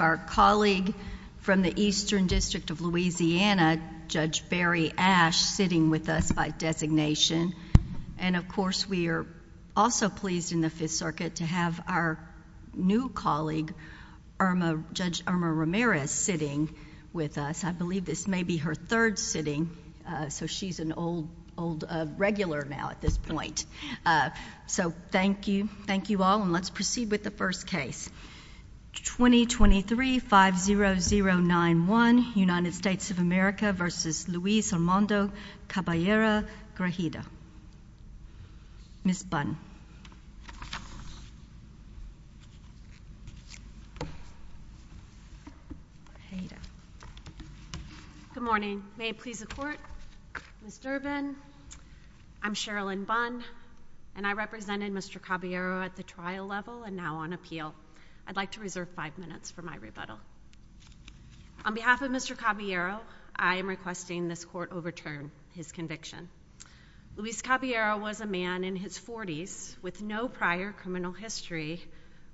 Our colleague from the Eastern District of Louisiana, Judge Barry Ashe, sitting with us by designation. And of course, we are also pleased in the Fifth Circuit to have our new colleague, Judge Irma Ramirez, sitting with us. I believe this may be her third sitting, so she's an old regular now at this point. So thank you. Thank you all. And let's proceed with the first case, 2023-50091, United States of America v. Luis Armando Caballero Grajeda. Ms. Bunn. Good morning. May it please the Court? Ms. Durbin, I'm Sherilyn Bunn, and I represented Mr. Caballero at the trial level and now on appeal. I'd like to reserve five minutes for my rebuttal. On behalf of Mr. Caballero, I am requesting this Court overturn his conviction. Luis Caballero was a man in his forties with no prior criminal history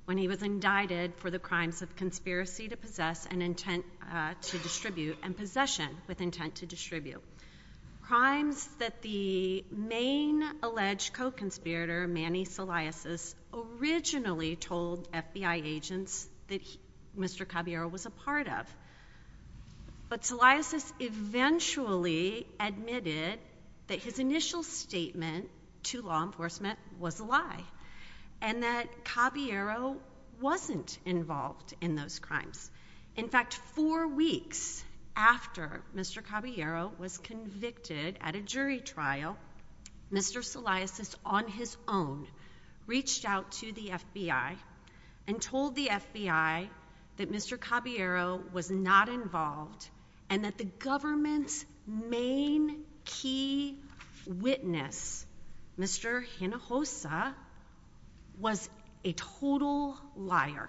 when he was indicted for the crimes of conspiracy to possess and intent to distribute and possession with intent to distribute, crimes that the main alleged co-conspirator, Manny Solaisis, originally told FBI agents that Mr. Caballero was a part of. But Solaisis eventually admitted that his initial statement to law enforcement was a lie and that Caballero wasn't involved in those crimes. In fact, four weeks after Mr. Caballero was convicted at a jury trial, Mr. Solaisis on his own reached out to the FBI and told the FBI that Mr. Caballero was not involved and that the government's main key witness, Mr. Hinojosa, was a total liar.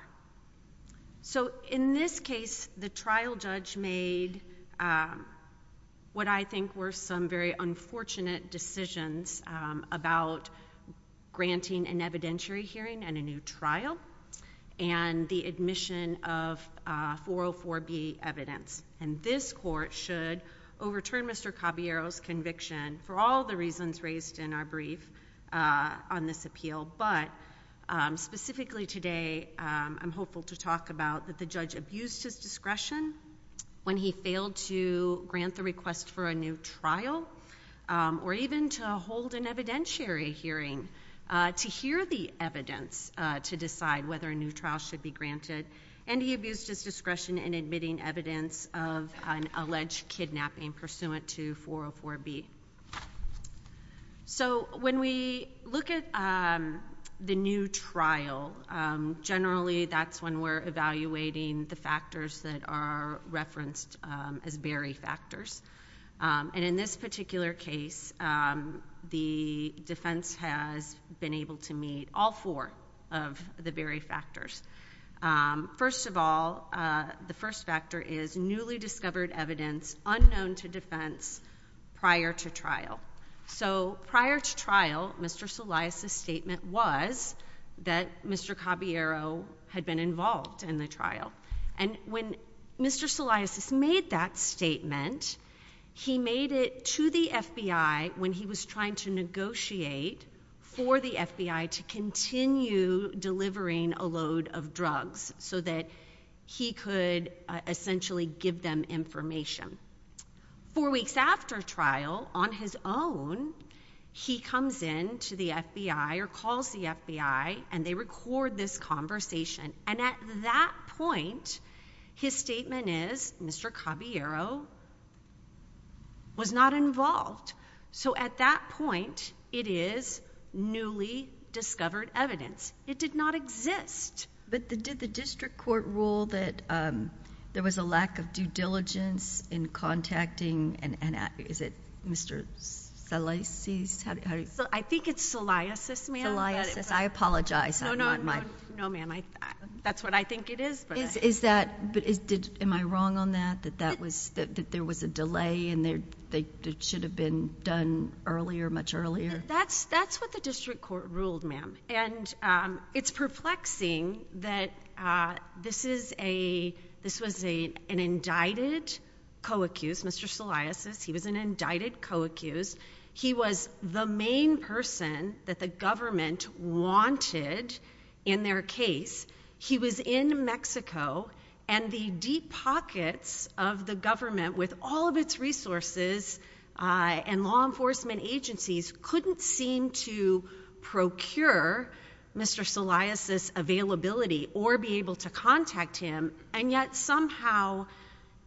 So in this case, the trial judge made what I think were some very unfortunate decisions about granting an evidentiary hearing and a new trial and the admission of 404B evidence. And this Court should overturn Mr. Caballero's conviction for all the reasons raised in our talk about that the judge abused his discretion when he failed to grant the request for a new trial or even to hold an evidentiary hearing to hear the evidence to decide whether a new trial should be granted. And he abused his discretion in admitting evidence of an alleged kidnapping pursuant to 404B. So when we look at the new trial, generally that's when we're evaluating the factors that are referenced as bury factors. And in this particular case, the defense has been able to meet all four of the bury factors. First of all, the first factor is newly discovered evidence unknown to defense prior to trial. So prior to trial, Mr. Solaes' statement was that Mr. Caballero had been involved in the trial. And when Mr. Solaes made that statement, he made it to the FBI when he was trying to negotiate for the FBI to continue delivering a load of drugs so that he could essentially give them information. Four weeks after trial, on his own, he comes in to the FBI or calls the FBI and they record this conversation. And at that point, his statement is Mr. Caballero was not involved. So at that point, it is newly discovered evidence. It did not exist. But did the district court rule that there was a lack of due diligence in contacting and is it Mr. Solaeses? I think it's Solaeses, ma'am. Solaeses. I apologize. No, ma'am. That's what I think it is. Is that, am I wrong on that, that there was a delay and it should have been done earlier, much earlier? That's what the district court ruled, ma'am. And it's perplexing that this was an indicted co-accused, Mr. Solaeses, he was an indicted co-accused. He was the main person that the government wanted in their case. He was in Mexico and the deep pockets of the government with all of its resources and law enforcement agencies couldn't seem to procure Mr. Solaeses availability or be able to contact him. And yet somehow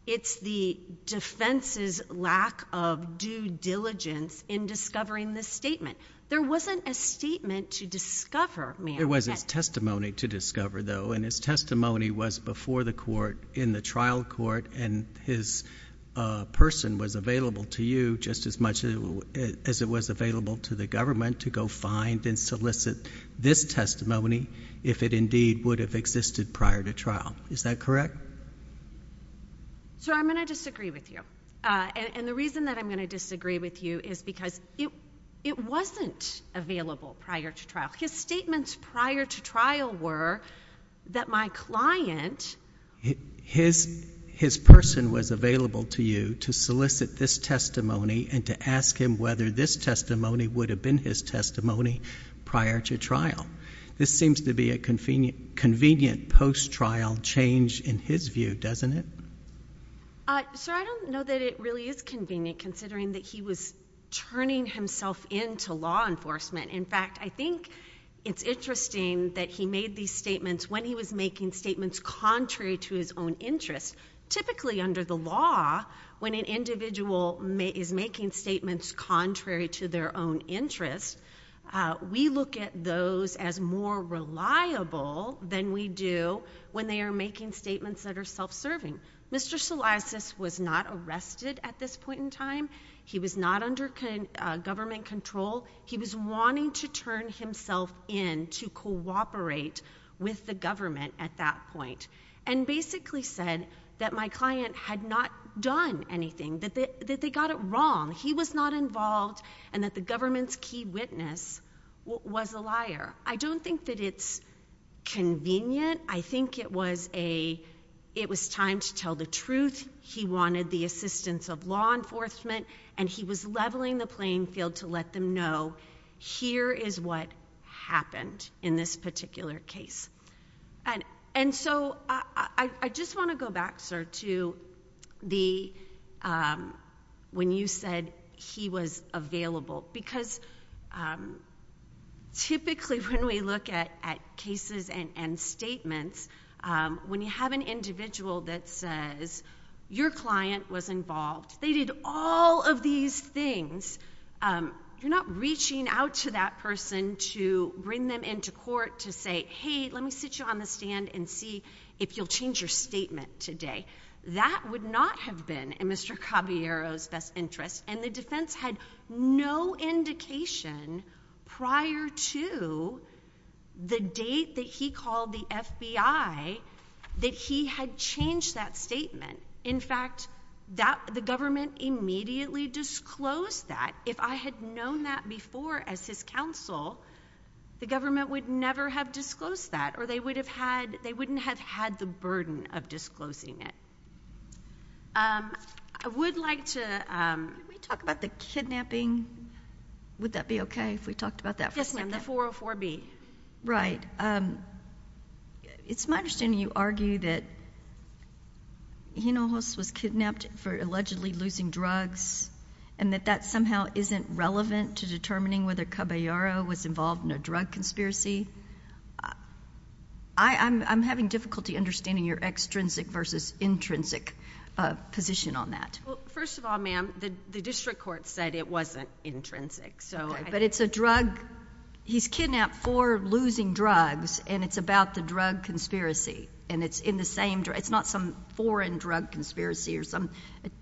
it's the defense's lack of due diligence in discovering this statement. There wasn't a statement to discover, ma'am. There was his testimony to discover though. And his testimony was before the court in the trial court and his person was available to you just as much as it was available to the government to go find and solicit this testimony if it indeed would have existed prior to trial. Is that correct? So I'm going to disagree with you. And the reason that I'm going to disagree with you is because it wasn't available prior to trial. His statements prior to trial were that my client— His person was available to you to solicit this testimony and to ask him whether this testimony would have been his testimony prior to trial. This seems to be a convenient post-trial change in his view, doesn't it? Sir, I don't know that it really is convenient considering that he was turning himself into law enforcement. In fact, I think it's interesting that he made these statements when he was making statements contrary to his own interest. Typically under the law, when an individual is making statements contrary to their own interest, we look at those as more reliable than we do when they are making statements that are self-serving. Mr. Solisas was not arrested at this point in time. He was not under government control. He was wanting to bring himself in to cooperate with the government at that point and basically said that my client had not done anything, that they got it wrong, he was not involved, and that the government's key witness was a liar. I don't think that it's convenient. I think it was a—it was time to tell the truth. He wanted the assistance of law enforcement, and he was leveling the playing field to let them know, here is what happened in this particular case. I just want to go back, sir, to when you said he was available, because typically when we look at cases and statements, when you have an individual that says, your client was involved, they did all of these things, you're not reaching out to that person to bring them into court to say, hey, let me sit you on the stand and see if you'll change your statement today. That would not have been in Mr. Caballero's best interest, and the defense had no indication prior to the date that he called the FBI that he had changed that statement. In fact, the government immediately disclosed that. If I had known that before as his counsel, the government would never have disclosed that, or they wouldn't have had the burden of disclosing it. I would like to— Can we talk about the kidnapping? Would that be okay if we talked about that for a second? Yes, ma'am, the 404B. Right. It's my understanding you argue that Hinojosa was kidnapped for allegedly losing drugs and that that somehow isn't relevant to determining whether Caballero was involved in a drug conspiracy. I'm having difficulty understanding your extrinsic versus intrinsic position on that. First of all, ma'am, the district court said it wasn't intrinsic, but it's a drug—he's kidnapped for losing drugs, and it's about the drug conspiracy, and it's in the same drug—it's not some foreign drug conspiracy or some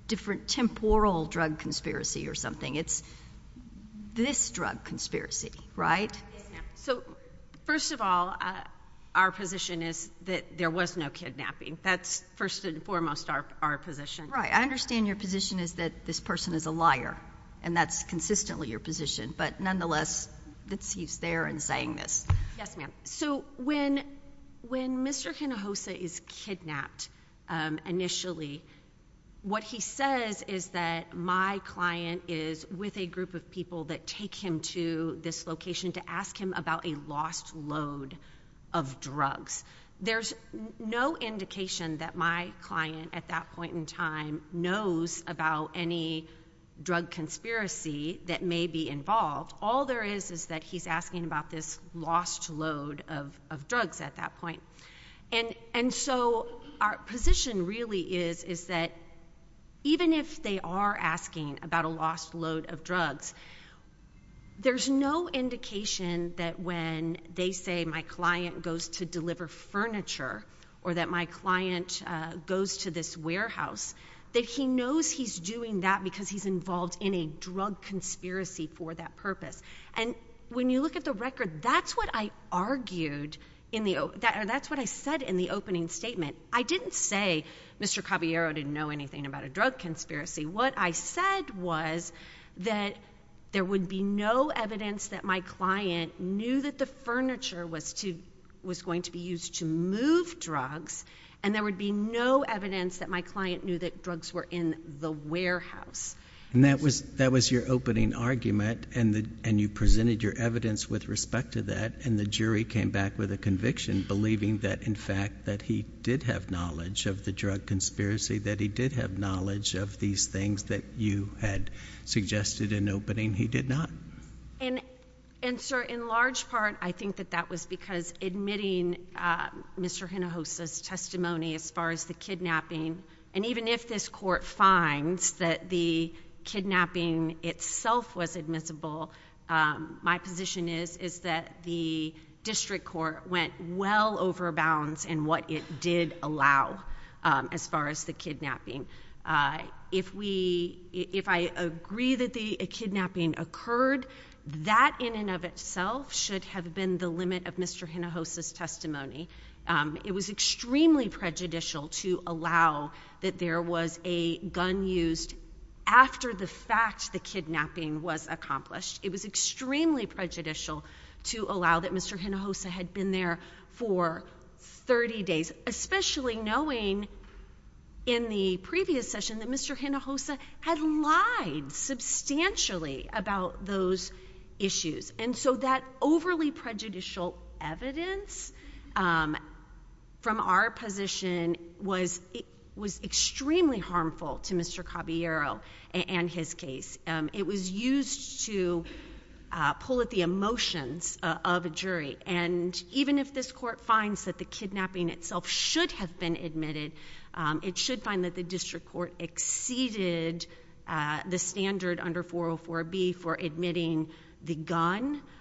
different temporal drug conspiracy or something. It's this drug conspiracy, right? Yes, ma'am. First of all, our position is that there was no kidnapping. That's first and foremost our position. Right. I understand your position is that this person is a liar, and that's consistently your position, but nonetheless, he's there and saying this. Yes, ma'am. When Mr. Hinojosa is kidnapped initially, what he says is that my client is with a group of people that take him to this location to ask him about a lost load of drugs. There's no indication that my client at that point in time knows about any drug conspiracy that may be involved. All there is is that he's asking about this lost load of drugs at that point. And so our position really is that even if they are asking about a lost load of drugs, there's no indication that when they say my client goes to deliver furniture or that my client has any drug conspiracy for that purpose. And when you look at the record, that's what I argued, or that's what I said in the opening statement. I didn't say Mr. Caballero didn't know anything about a drug conspiracy. What I said was that there would be no evidence that my client knew that the furniture was going to be used to move drugs, and there would be no evidence that my client knew that drugs were in the warehouse. And that was your opening argument, and you presented your evidence with respect to that, and the jury came back with a conviction believing that, in fact, that he did have knowledge of the drug conspiracy, that he did have knowledge of these things that you had suggested in opening. He did not. And, sir, in large part, I think that that was because admitting Mr. Hinojosa's testimony as far as the kidnapping, and even if this Court finds that the kidnapping itself was admissible, my position is that the district court went well over bounds in what it did allow as far as the kidnapping. If I agree that the kidnapping occurred, that in and of itself was prejudicial to allow that there was a gun used after the fact the kidnapping was accomplished, it was extremely prejudicial to allow that Mr. Hinojosa had been there for 30 days, especially knowing in the previous session that Mr. Hinojosa had lied substantially about those issues. And so that overly prejudicial evidence from our position was extremely harmful to Mr. Caballero and his case. It was used to pull at the emotions of a jury, and even if this Court finds that the kidnapping itself should have been admitted, it should find that the kidnapping itself should have been admitted.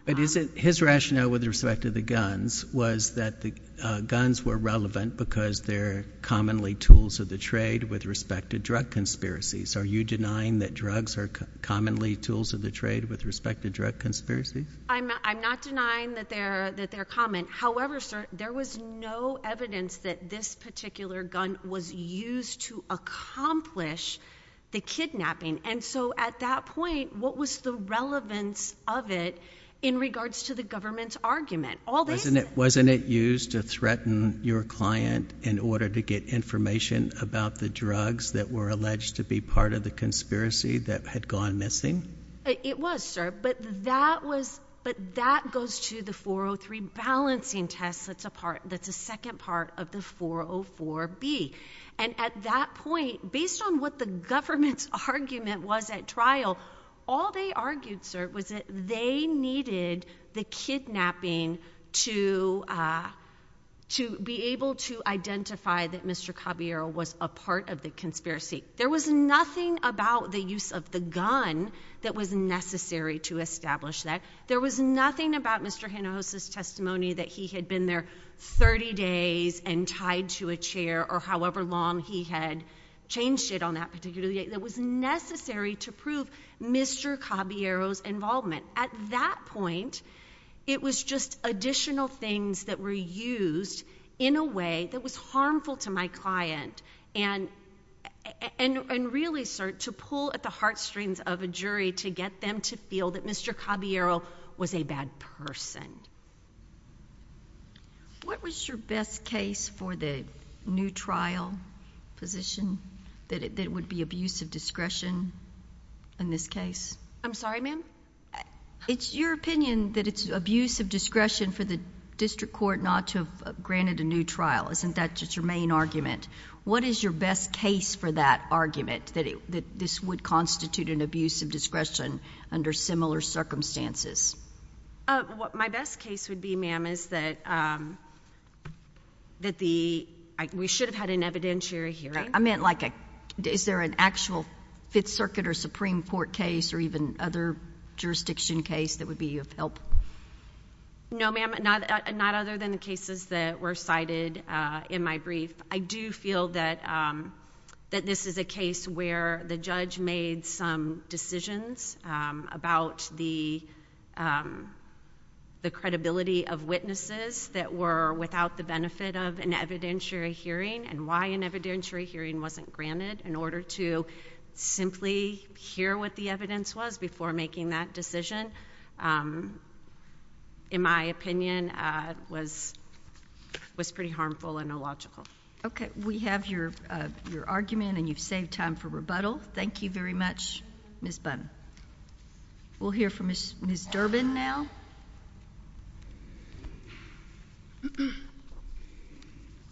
But his rationale with respect to the guns was that the guns were relevant because they're commonly tools of the trade with respect to drug conspiracies. Are you denying that drugs are commonly tools of the trade with respect to drug conspiracies? I'm not denying that they're common. However, sir, there was no evidence that this particular gun was used to accomplish the kidnapping. And so at that point, what was the relevance of it in regards to the government's argument? Wasn't it used to threaten your client in order to get information about the drugs that were alleged to be part of the conspiracy that had gone missing? It was, sir. But that goes to the 403 balancing test that's a second part of the 404B. And at that point, based on what the government's argument was at trial, all they argued, sir, was that they needed the kidnapping to be able to identify that Mr. Caballero was a part of the conspiracy. There was nothing about the use of the gun that was necessary to establish that. There was nothing about Mr. Hinojosa's testimony that he had been there 30 days and tied to a chair, or however long he had changed it on that particular day, that was necessary to prove Mr. Caballero's involvement. At that point, it was just additional things that were used in a way that was harmful to my client. And really, sir, to pull at the heartstrings of a jury to get them to feel that Mr. Caballero was a bad person. What was your best case for the new trial position, that it would be abuse of discretion in this case? I'm sorry, ma'am? It's your opinion that it's abuse of discretion for the district court not to have granted a new trial. Isn't that just your main argument? What is your best case for that argument, that this would constitute an abuse of discretion under similar circumstances? My best case would be, ma'am, is that we should have had an evidentiary hearing. I meant like, is there an actual Fifth Circuit or Supreme Court case or even other jurisdiction case that would be of help? No, ma'am. Not other than the cases that were cited in my brief. I do feel that this is a case where the judge made some decisions about the credibility of witnesses that were without the benefit of an evidentiary hearing and why an evidentiary hearing wasn't granted in order to simply hear what the evidence was before making that decision, in my opinion, was pretty harmful and illogical. Okay. We have your argument and you've saved time for rebuttal. Thank you very much, Ms. Bunn. We'll hear from Ms. Durbin now.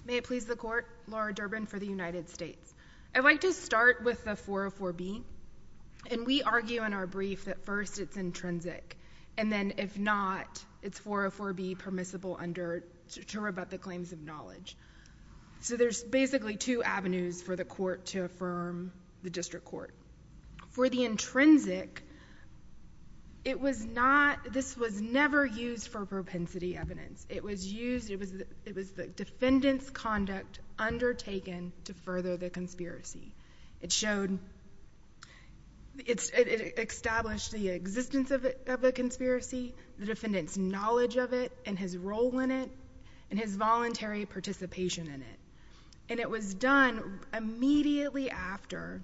May it please the Court, Laura Durbin for the United States. I'd like to start with the 404B. And we argue in our brief that first it's intrinsic, and then if not, it's 404B is permissible to rebut the claims of knowledge. So there's basically two avenues for the Court to affirm the District Court. For the intrinsic, it was not, this was never used for propensity evidence. It was used, it was the defendant's conduct undertaken to further the conspiracy. It showed, it established the existence of the conspiracy, the defendant's knowledge of it, and his role in it, and his voluntary participation in it. And it was done immediately after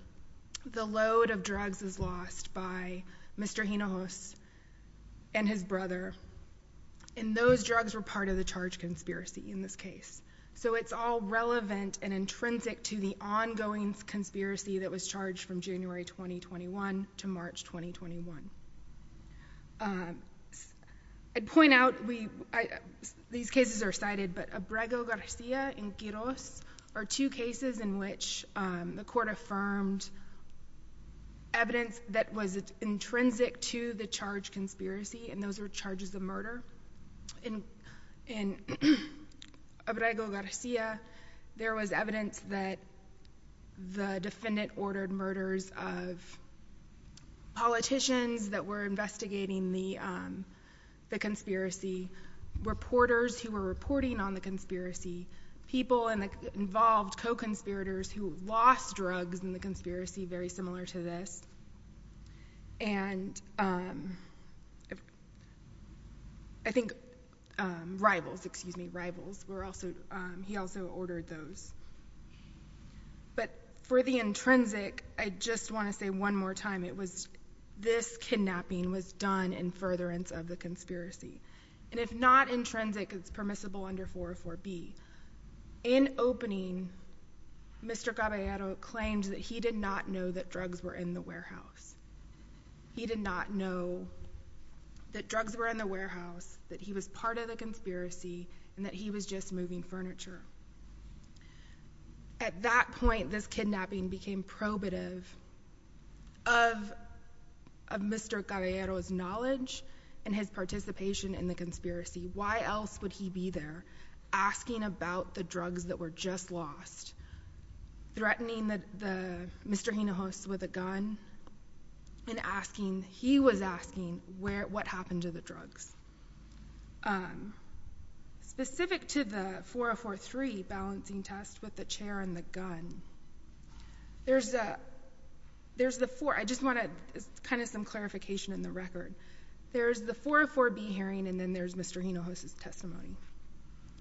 the load of drugs was lost by Mr. Hinojosa and his brother. And those drugs were part of the charged conspiracy in this case. So it's all relevant and intrinsic to the ongoing conspiracy that was charged from January 2021 to March 2021. I'd point out, these cases are cited, but Abrego Garcia and Quiroz are two cases in which the Court affirmed evidence that was intrinsic to the charged conspiracy, and those were charges of murder. In Abrego Garcia, there was evidence that the defendant ordered murders of politicians that were investigating the conspiracy, reporters who were reporting on the conspiracy, people involved, co-conspirators, who lost drugs in the conspiracy, very similar to this. And I think rivals, excuse me, rivals, he also ordered those. But for the intrinsic, I just want to say one more time, it was—this kidnapping was done in furtherance of the conspiracy. And if not intrinsic, it's permissible under 404B. In opening, Mr. Caballero claimed that he did not know that drugs were in the warehouse. He did not know that drugs were in the warehouse, that he was part of the conspiracy, and that he was just moving furniture. At that point, this kidnapping became probative of Mr. Caballero's knowledge and his participation in the conspiracy. Why else would he be there, asking about the drugs that were just lost, threatening the Mr. Hinojosa with a gun, and asking—he was asking what happened to the 403 balancing test with the chair and the gun? There's the four—I just want to—it's kind of some clarification in the record. There's the 404B hearing, and then there's Mr. Hinojosa's testimony.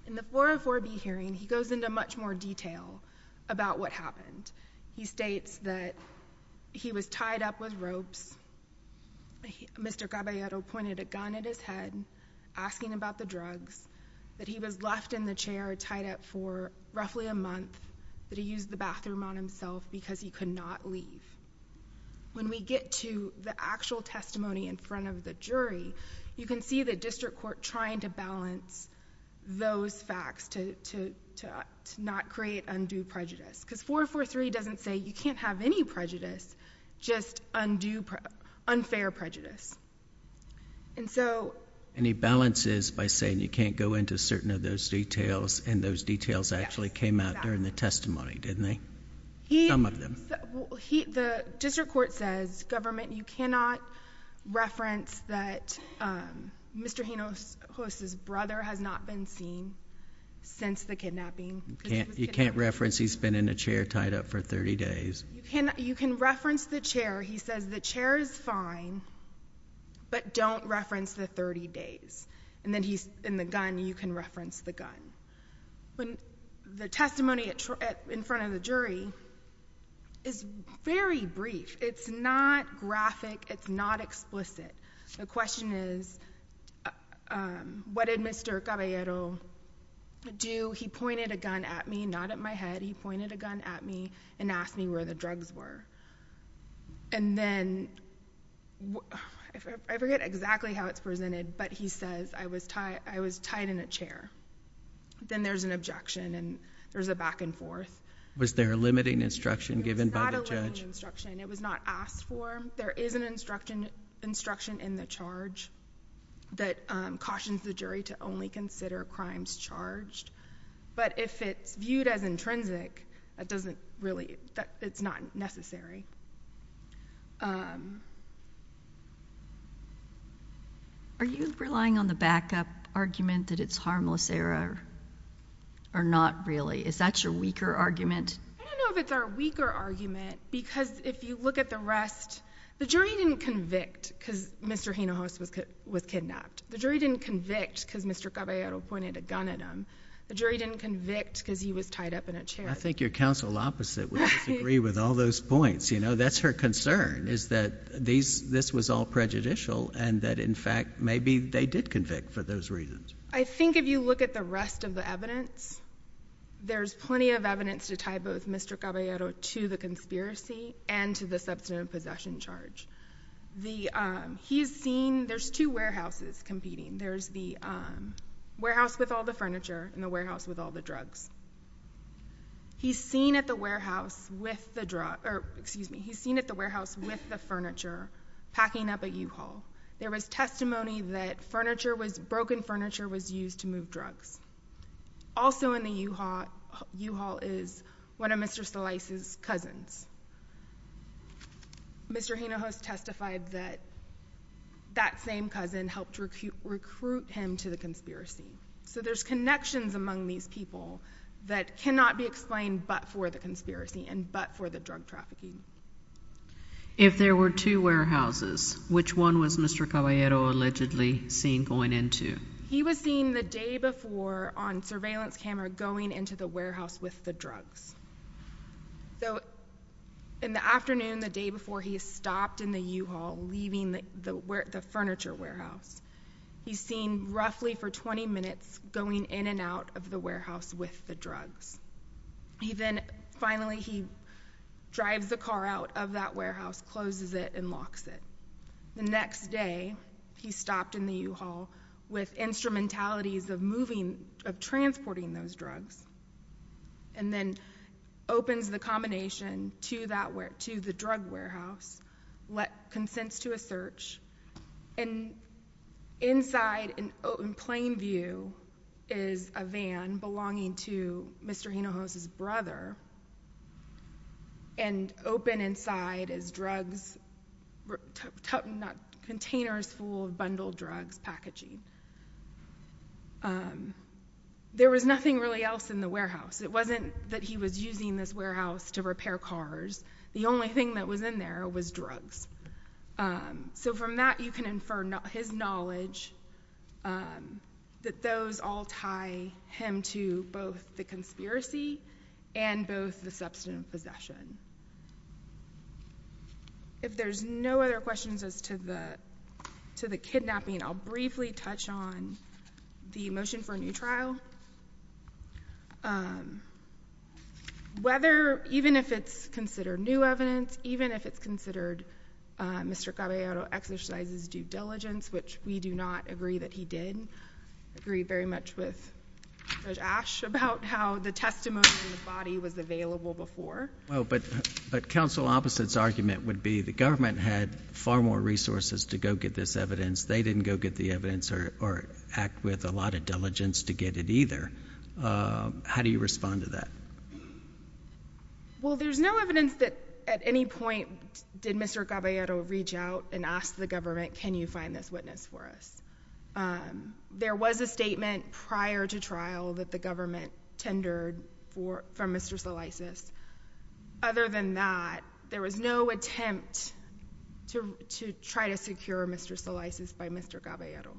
In the 404B hearing, he goes into much more detail about what happened. He states that he was tied up with ropes. Mr. Caballero pointed a gun at his head, asking about the drugs, that he was left in the chair, tied up for roughly a month, that he used the bathroom on himself because he could not leave. When we get to the actual testimony in front of the jury, you can see the district court trying to balance those facts to not create undue prejudice, because 404C doesn't say you can't have any prejudice, just unfair prejudice. And so— And he balances by saying you can't go into certain of those details, and those details actually came out during the testimony, didn't they? Some of them. The district court says, government, you cannot reference that Mr. Hinojosa's brother has not been seen since the kidnapping. You can't reference he's been in a chair tied up for 30 days. You can reference the chair. He says the chair is fine, but don't reference the 30 days. And then he's—in the gun, you can reference the gun. The testimony in front of the jury is very brief. It's not graphic. It's not explicit. The question is, what did Mr. Caballero do? He pointed a gun at me, not at my head. He said, I don't know what your drugs were. And then, I forget exactly how it's presented, but he says I was tied in a chair. Then there's an objection, and there's a back and forth. Was there a limiting instruction given by the judge? There was not a limiting instruction. It was not asked for. There is an instruction in the charge that cautions the jury to only consider crimes charged. But if it's viewed as intrinsic, that doesn't really—it's not necessary. Are you relying on the backup argument that it's harmless error, or not really? Is that your weaker argument? I don't know if it's our weaker argument, because if you look at the rest, the jury didn't convict because Mr. Hinojosa was kidnapped. The jury didn't convict because Mr. Caballero pointed a gun at him. The jury didn't convict because he was tied up in a chair. I think your counsel opposite would disagree with all those points. You know, that's her concern is that this was all prejudicial, and that, in fact, maybe they did convict for those reasons. I think if you look at the rest of the evidence, there's plenty of evidence to tie both Mr. Caballero to the conspiracy and to the substantive possession charge. He's seen—there's two places—the warehouse with all the furniture and the warehouse with all the drugs. He's seen at the warehouse with the—or, excuse me, he's seen at the warehouse with the furniture packing up at U-Haul. There was testimony that broken furniture was used to move drugs. Also in the U-Haul is one of Mr. Stilice's cousins. Mr. Hinojosa testified that that was a conspiracy. So there's connections among these people that cannot be explained but for the conspiracy and but for the drug trafficking. If there were two warehouses, which one was Mr. Caballero allegedly seen going into? He was seen the day before on surveillance camera going into the warehouse with the drugs. So in the afternoon, the day before, he stopped in the U-Haul leaving the furniture warehouse. He's seen roughly for 20 minutes going in and out of the warehouse with the drugs. He then—finally, he drives the car out of that warehouse, closes it, and locks it. The next day, he stopped in the U-Haul with instrumentalities of moving—of transporting those drugs and then opens the combination to that—to the drug warehouse, consents to a search, and inside in plain view is a van belonging to Mr. Hinojosa's brother and open inside is drugs—containers full of bundled drugs packaging. There was nothing really else in the warehouse. It wasn't that he was using this warehouse to repair cars. The only thing that was in there was drugs. So from that, you can infer his knowledge that those all tie him to both the conspiracy and both the substantive possession. If there's no other questions as to the—to the kidnapping, I'll briefly touch on the motion for a new trial. Whether—even if it's considered new evidence, even if it's a new evidence case, we know that the—that it's a new evidence case, and—that the bottom line is you have to participate. You have to participate. There's—there's So why is the way it was, kind of familial, ended up keeping silent and turned to—it continued to silence and turn to violence and turn to bullying. There was a statement prior to trial that the government tendered for—from Mr. Solisis. Other than that, there was no attempt to—to try to secure Mr. Solisis by Mr. Caballero.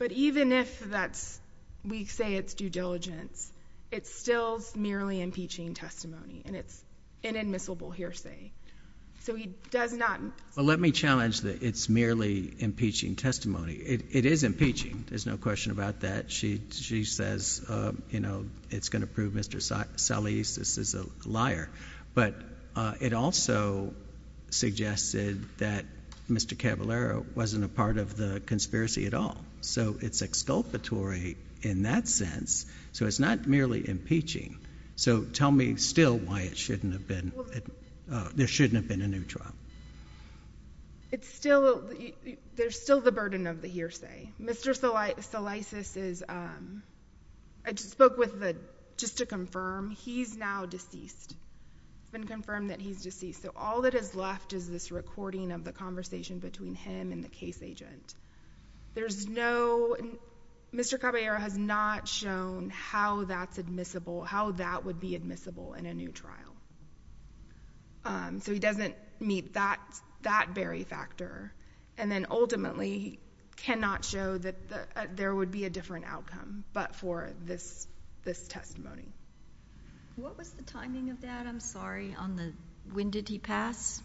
But even if that's—we say it's due diligence, it's still merely impeaching testimony, and it's inadmissible hearsay. So he does not— Well, let me challenge that it's merely impeaching testimony. It is impeaching. There's no question about that. She—she says, you know, it's going to prove Mr. Solis—this is a liar. But it also suggested that Mr. Caballero wasn't a part of the conspiracy at all. So it's exculpatory in that sense. So it's not merely impeaching. So tell me still why it shouldn't have been—there shouldn't have been a new trial. It's still—there's still the burden of the hearsay. Mr. Solis—Solisis is—I spoke with the—just to confirm, he's now deceased. It's been confirmed that he's deceased. So all that is left is this recording of the conversation between him and the case agent. There's no—Mr. Caballero has not shown how that's admissible, how that would be admissible in a new trial. So he doesn't meet that—that very factor. And then ultimately, he cannot show that there would be a different outcome but for this—this testimony. What was the timing of that? I'm sorry, on the—when did he pass?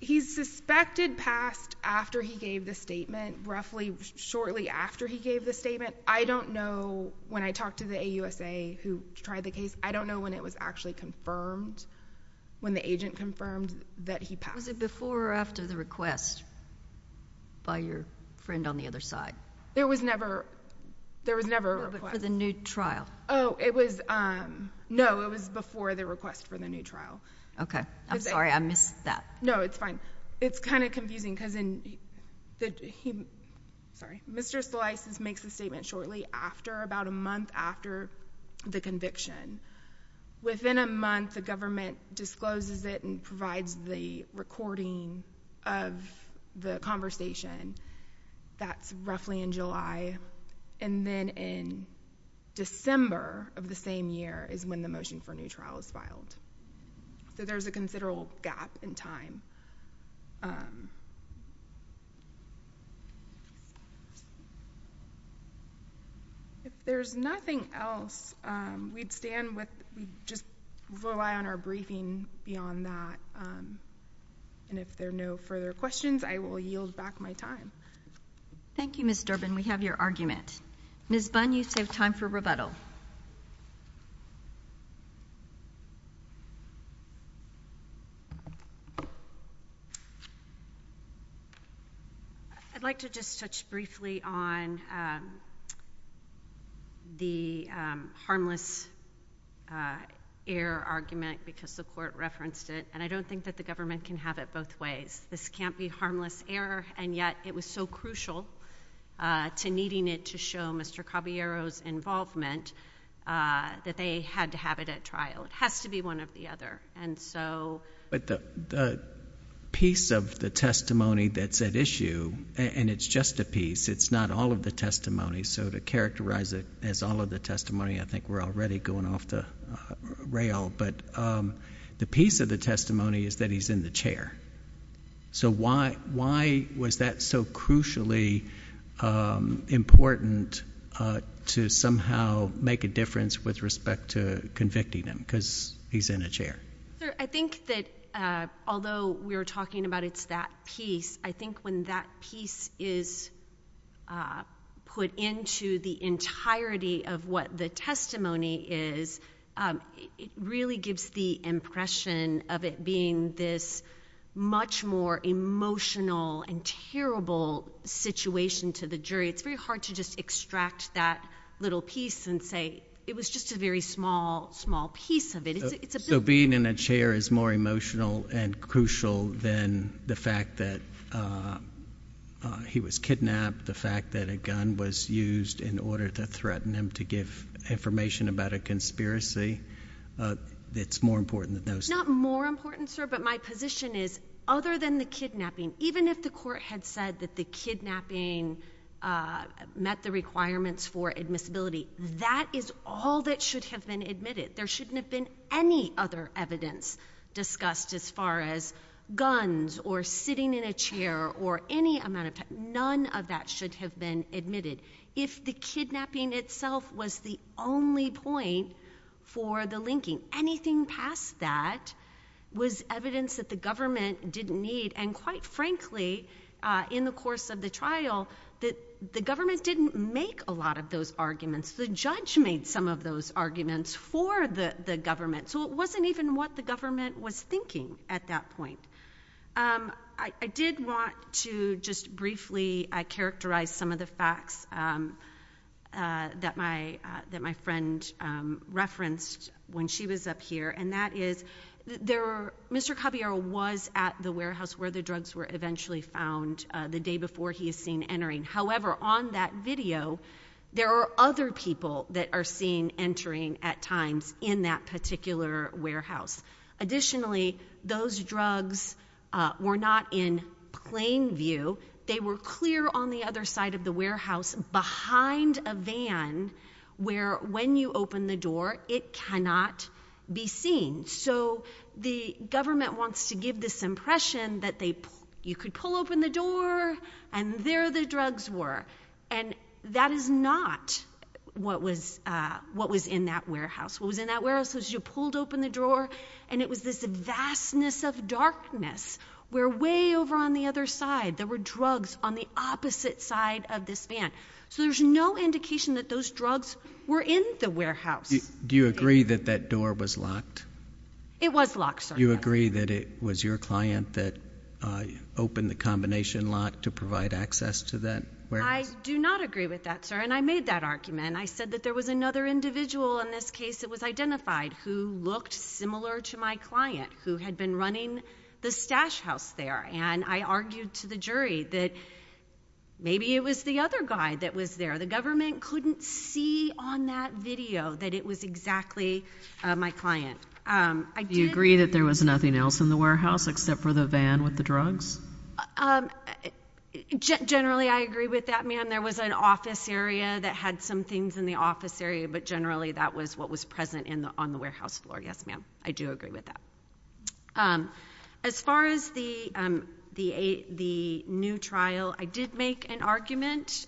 He's suspected passed after he gave the statement, roughly shortly after he gave the statement. I don't know, when I talked to the AUSA who tried the case, I don't know when it was actually confirmed, when the agent confirmed that he passed. Was it before or after the request by your friend on the other side? There was never—there was never a request. For the new trial? Oh, it was—no, it was before the request for the new trial. Okay. I'm sorry, I missed that. No, it's fine. It's kind of confusing because in the—he—sorry. Mr. Solisis makes the statement shortly after, about a month after the conviction. Within a month, the government discloses it and provides the recording of the conversation. That's roughly in July. And then in December of the same year is when the motion for a new trial is filed. So there's a considerable gap in time. If there's nothing else, we'd stand with—we'd just rely on our briefing beyond that. And if there are no further questions, I will yield back my time. Thank you, Ms. Durbin. We have your argument. Ms. Bunn, you save time for rebuttal. I'd like to just touch briefly on the harmless error argument because the court referenced it, and I don't think that the government can have it both ways. This can't be harmless error, and yet it was so crucial to needing it to show Mr. Caballero's involvement that they had to have it at trial. It has to be one or the other. But the piece of the testimony that's at issue—and it's just a piece. It's not all of the testimony. So to characterize it as all of the testimony, I think we're already going off the rail. But the piece of the testimony is that he's in the chair. So why was that so crucially important to somehow make a difference with respect to convicting him because he's in a chair? I think that although we are talking about it's that piece, I think when that piece is put into the entirety of what the testimony is, it really gives the impression of it being this much more emotional and terrible situation to the jury. It's very hard to just extract that little piece and say, it was just a very small, small piece of it. So being in a chair is more emotional and crucial than the fact that he was kidnapped, the fact that a gun was used in order to threaten him to give information about a conspiracy. It's more important than those things. Not more important, sir, but my position is other than the kidnapping, even if the court had said that the kidnapping met the requirements for admissibility, that is all that should have been admitted. There shouldn't have been any other evidence discussed as far as guns or sitting in a chair or any amount of time. None of that should have been admitted. If the kidnapping itself was the only point for the linking, anything past that was evidence that the government didn't need. And quite frankly, in the course of the trial, the government didn't make a lot of those arguments. The judge made some of those arguments for the prosecution. I did want to just briefly characterize some of the facts that my friend referenced when she was up here, and that is, Mr. Caballero was at the warehouse where the drugs were eventually found the day before he is seen entering. However, on that video, there are other people that are seen entering at times in that particular warehouse. Additionally, those drugs were not in plain view. They were clear on the other side of the warehouse behind a van where when you open the door, it cannot be seen. So the government wants to give this impression that you could pull open the door, and there the drugs were. And that is not what was in that warehouse. What was in that warehouse was you pulled open the drawer, and it was this vastness of darkness where way over on the other side, there were drugs on the opposite side of this van. So there's no indication that those drugs were in the warehouse. Do you agree that that door was locked? It was locked, sir. Do you agree that it was your client that opened the combination lock to provide access to that warehouse? I do not agree with that, sir, and I made that argument. I said that there was another individual in this case that was identified who looked similar to my client who had been running the stash house there, and I argued to the jury that maybe it was the other guy that was there. The government couldn't see on that video that it was exactly my client. Do you agree that there was nothing else in the warehouse except for the van with the drugs? Generally I agree with that, ma'am. There was an office area that had some things in the office area, but generally that was what was present on the warehouse floor. Yes, ma'am, I do agree with that. As far as the new trial, I did make an argument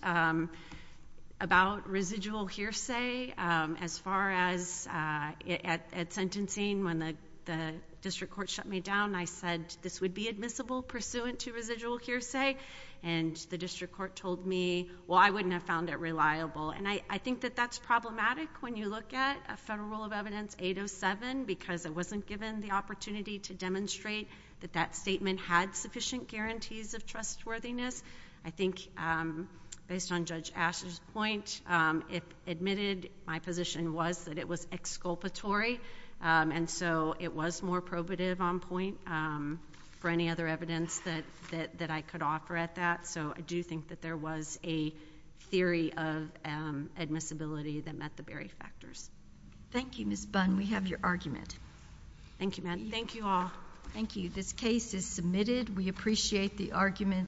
about residual hearsay as far as at sentencing when the district court shut me down. I said this would be admissible pursuant to residual hearsay, and the district court told me, well, I wouldn't have found it reliable, and I think that that's problematic when you look at a Federal Rule of Evidence 807 because it wasn't given the opportunity to demonstrate that that statement had sufficient guarantees of trustworthiness. I think based on Judge Asher's point, if admitted, my position was that it was exculpatory, and so it was more probative on point for any other evidence that I could offer at that. So I do think that there was a theory of admissibility that met the very factors. Thank you, Ms. Bunn. We have your argument. Thank you, ma'am. Thank you all. Thank you. This case is submitted. We appreciate the argument.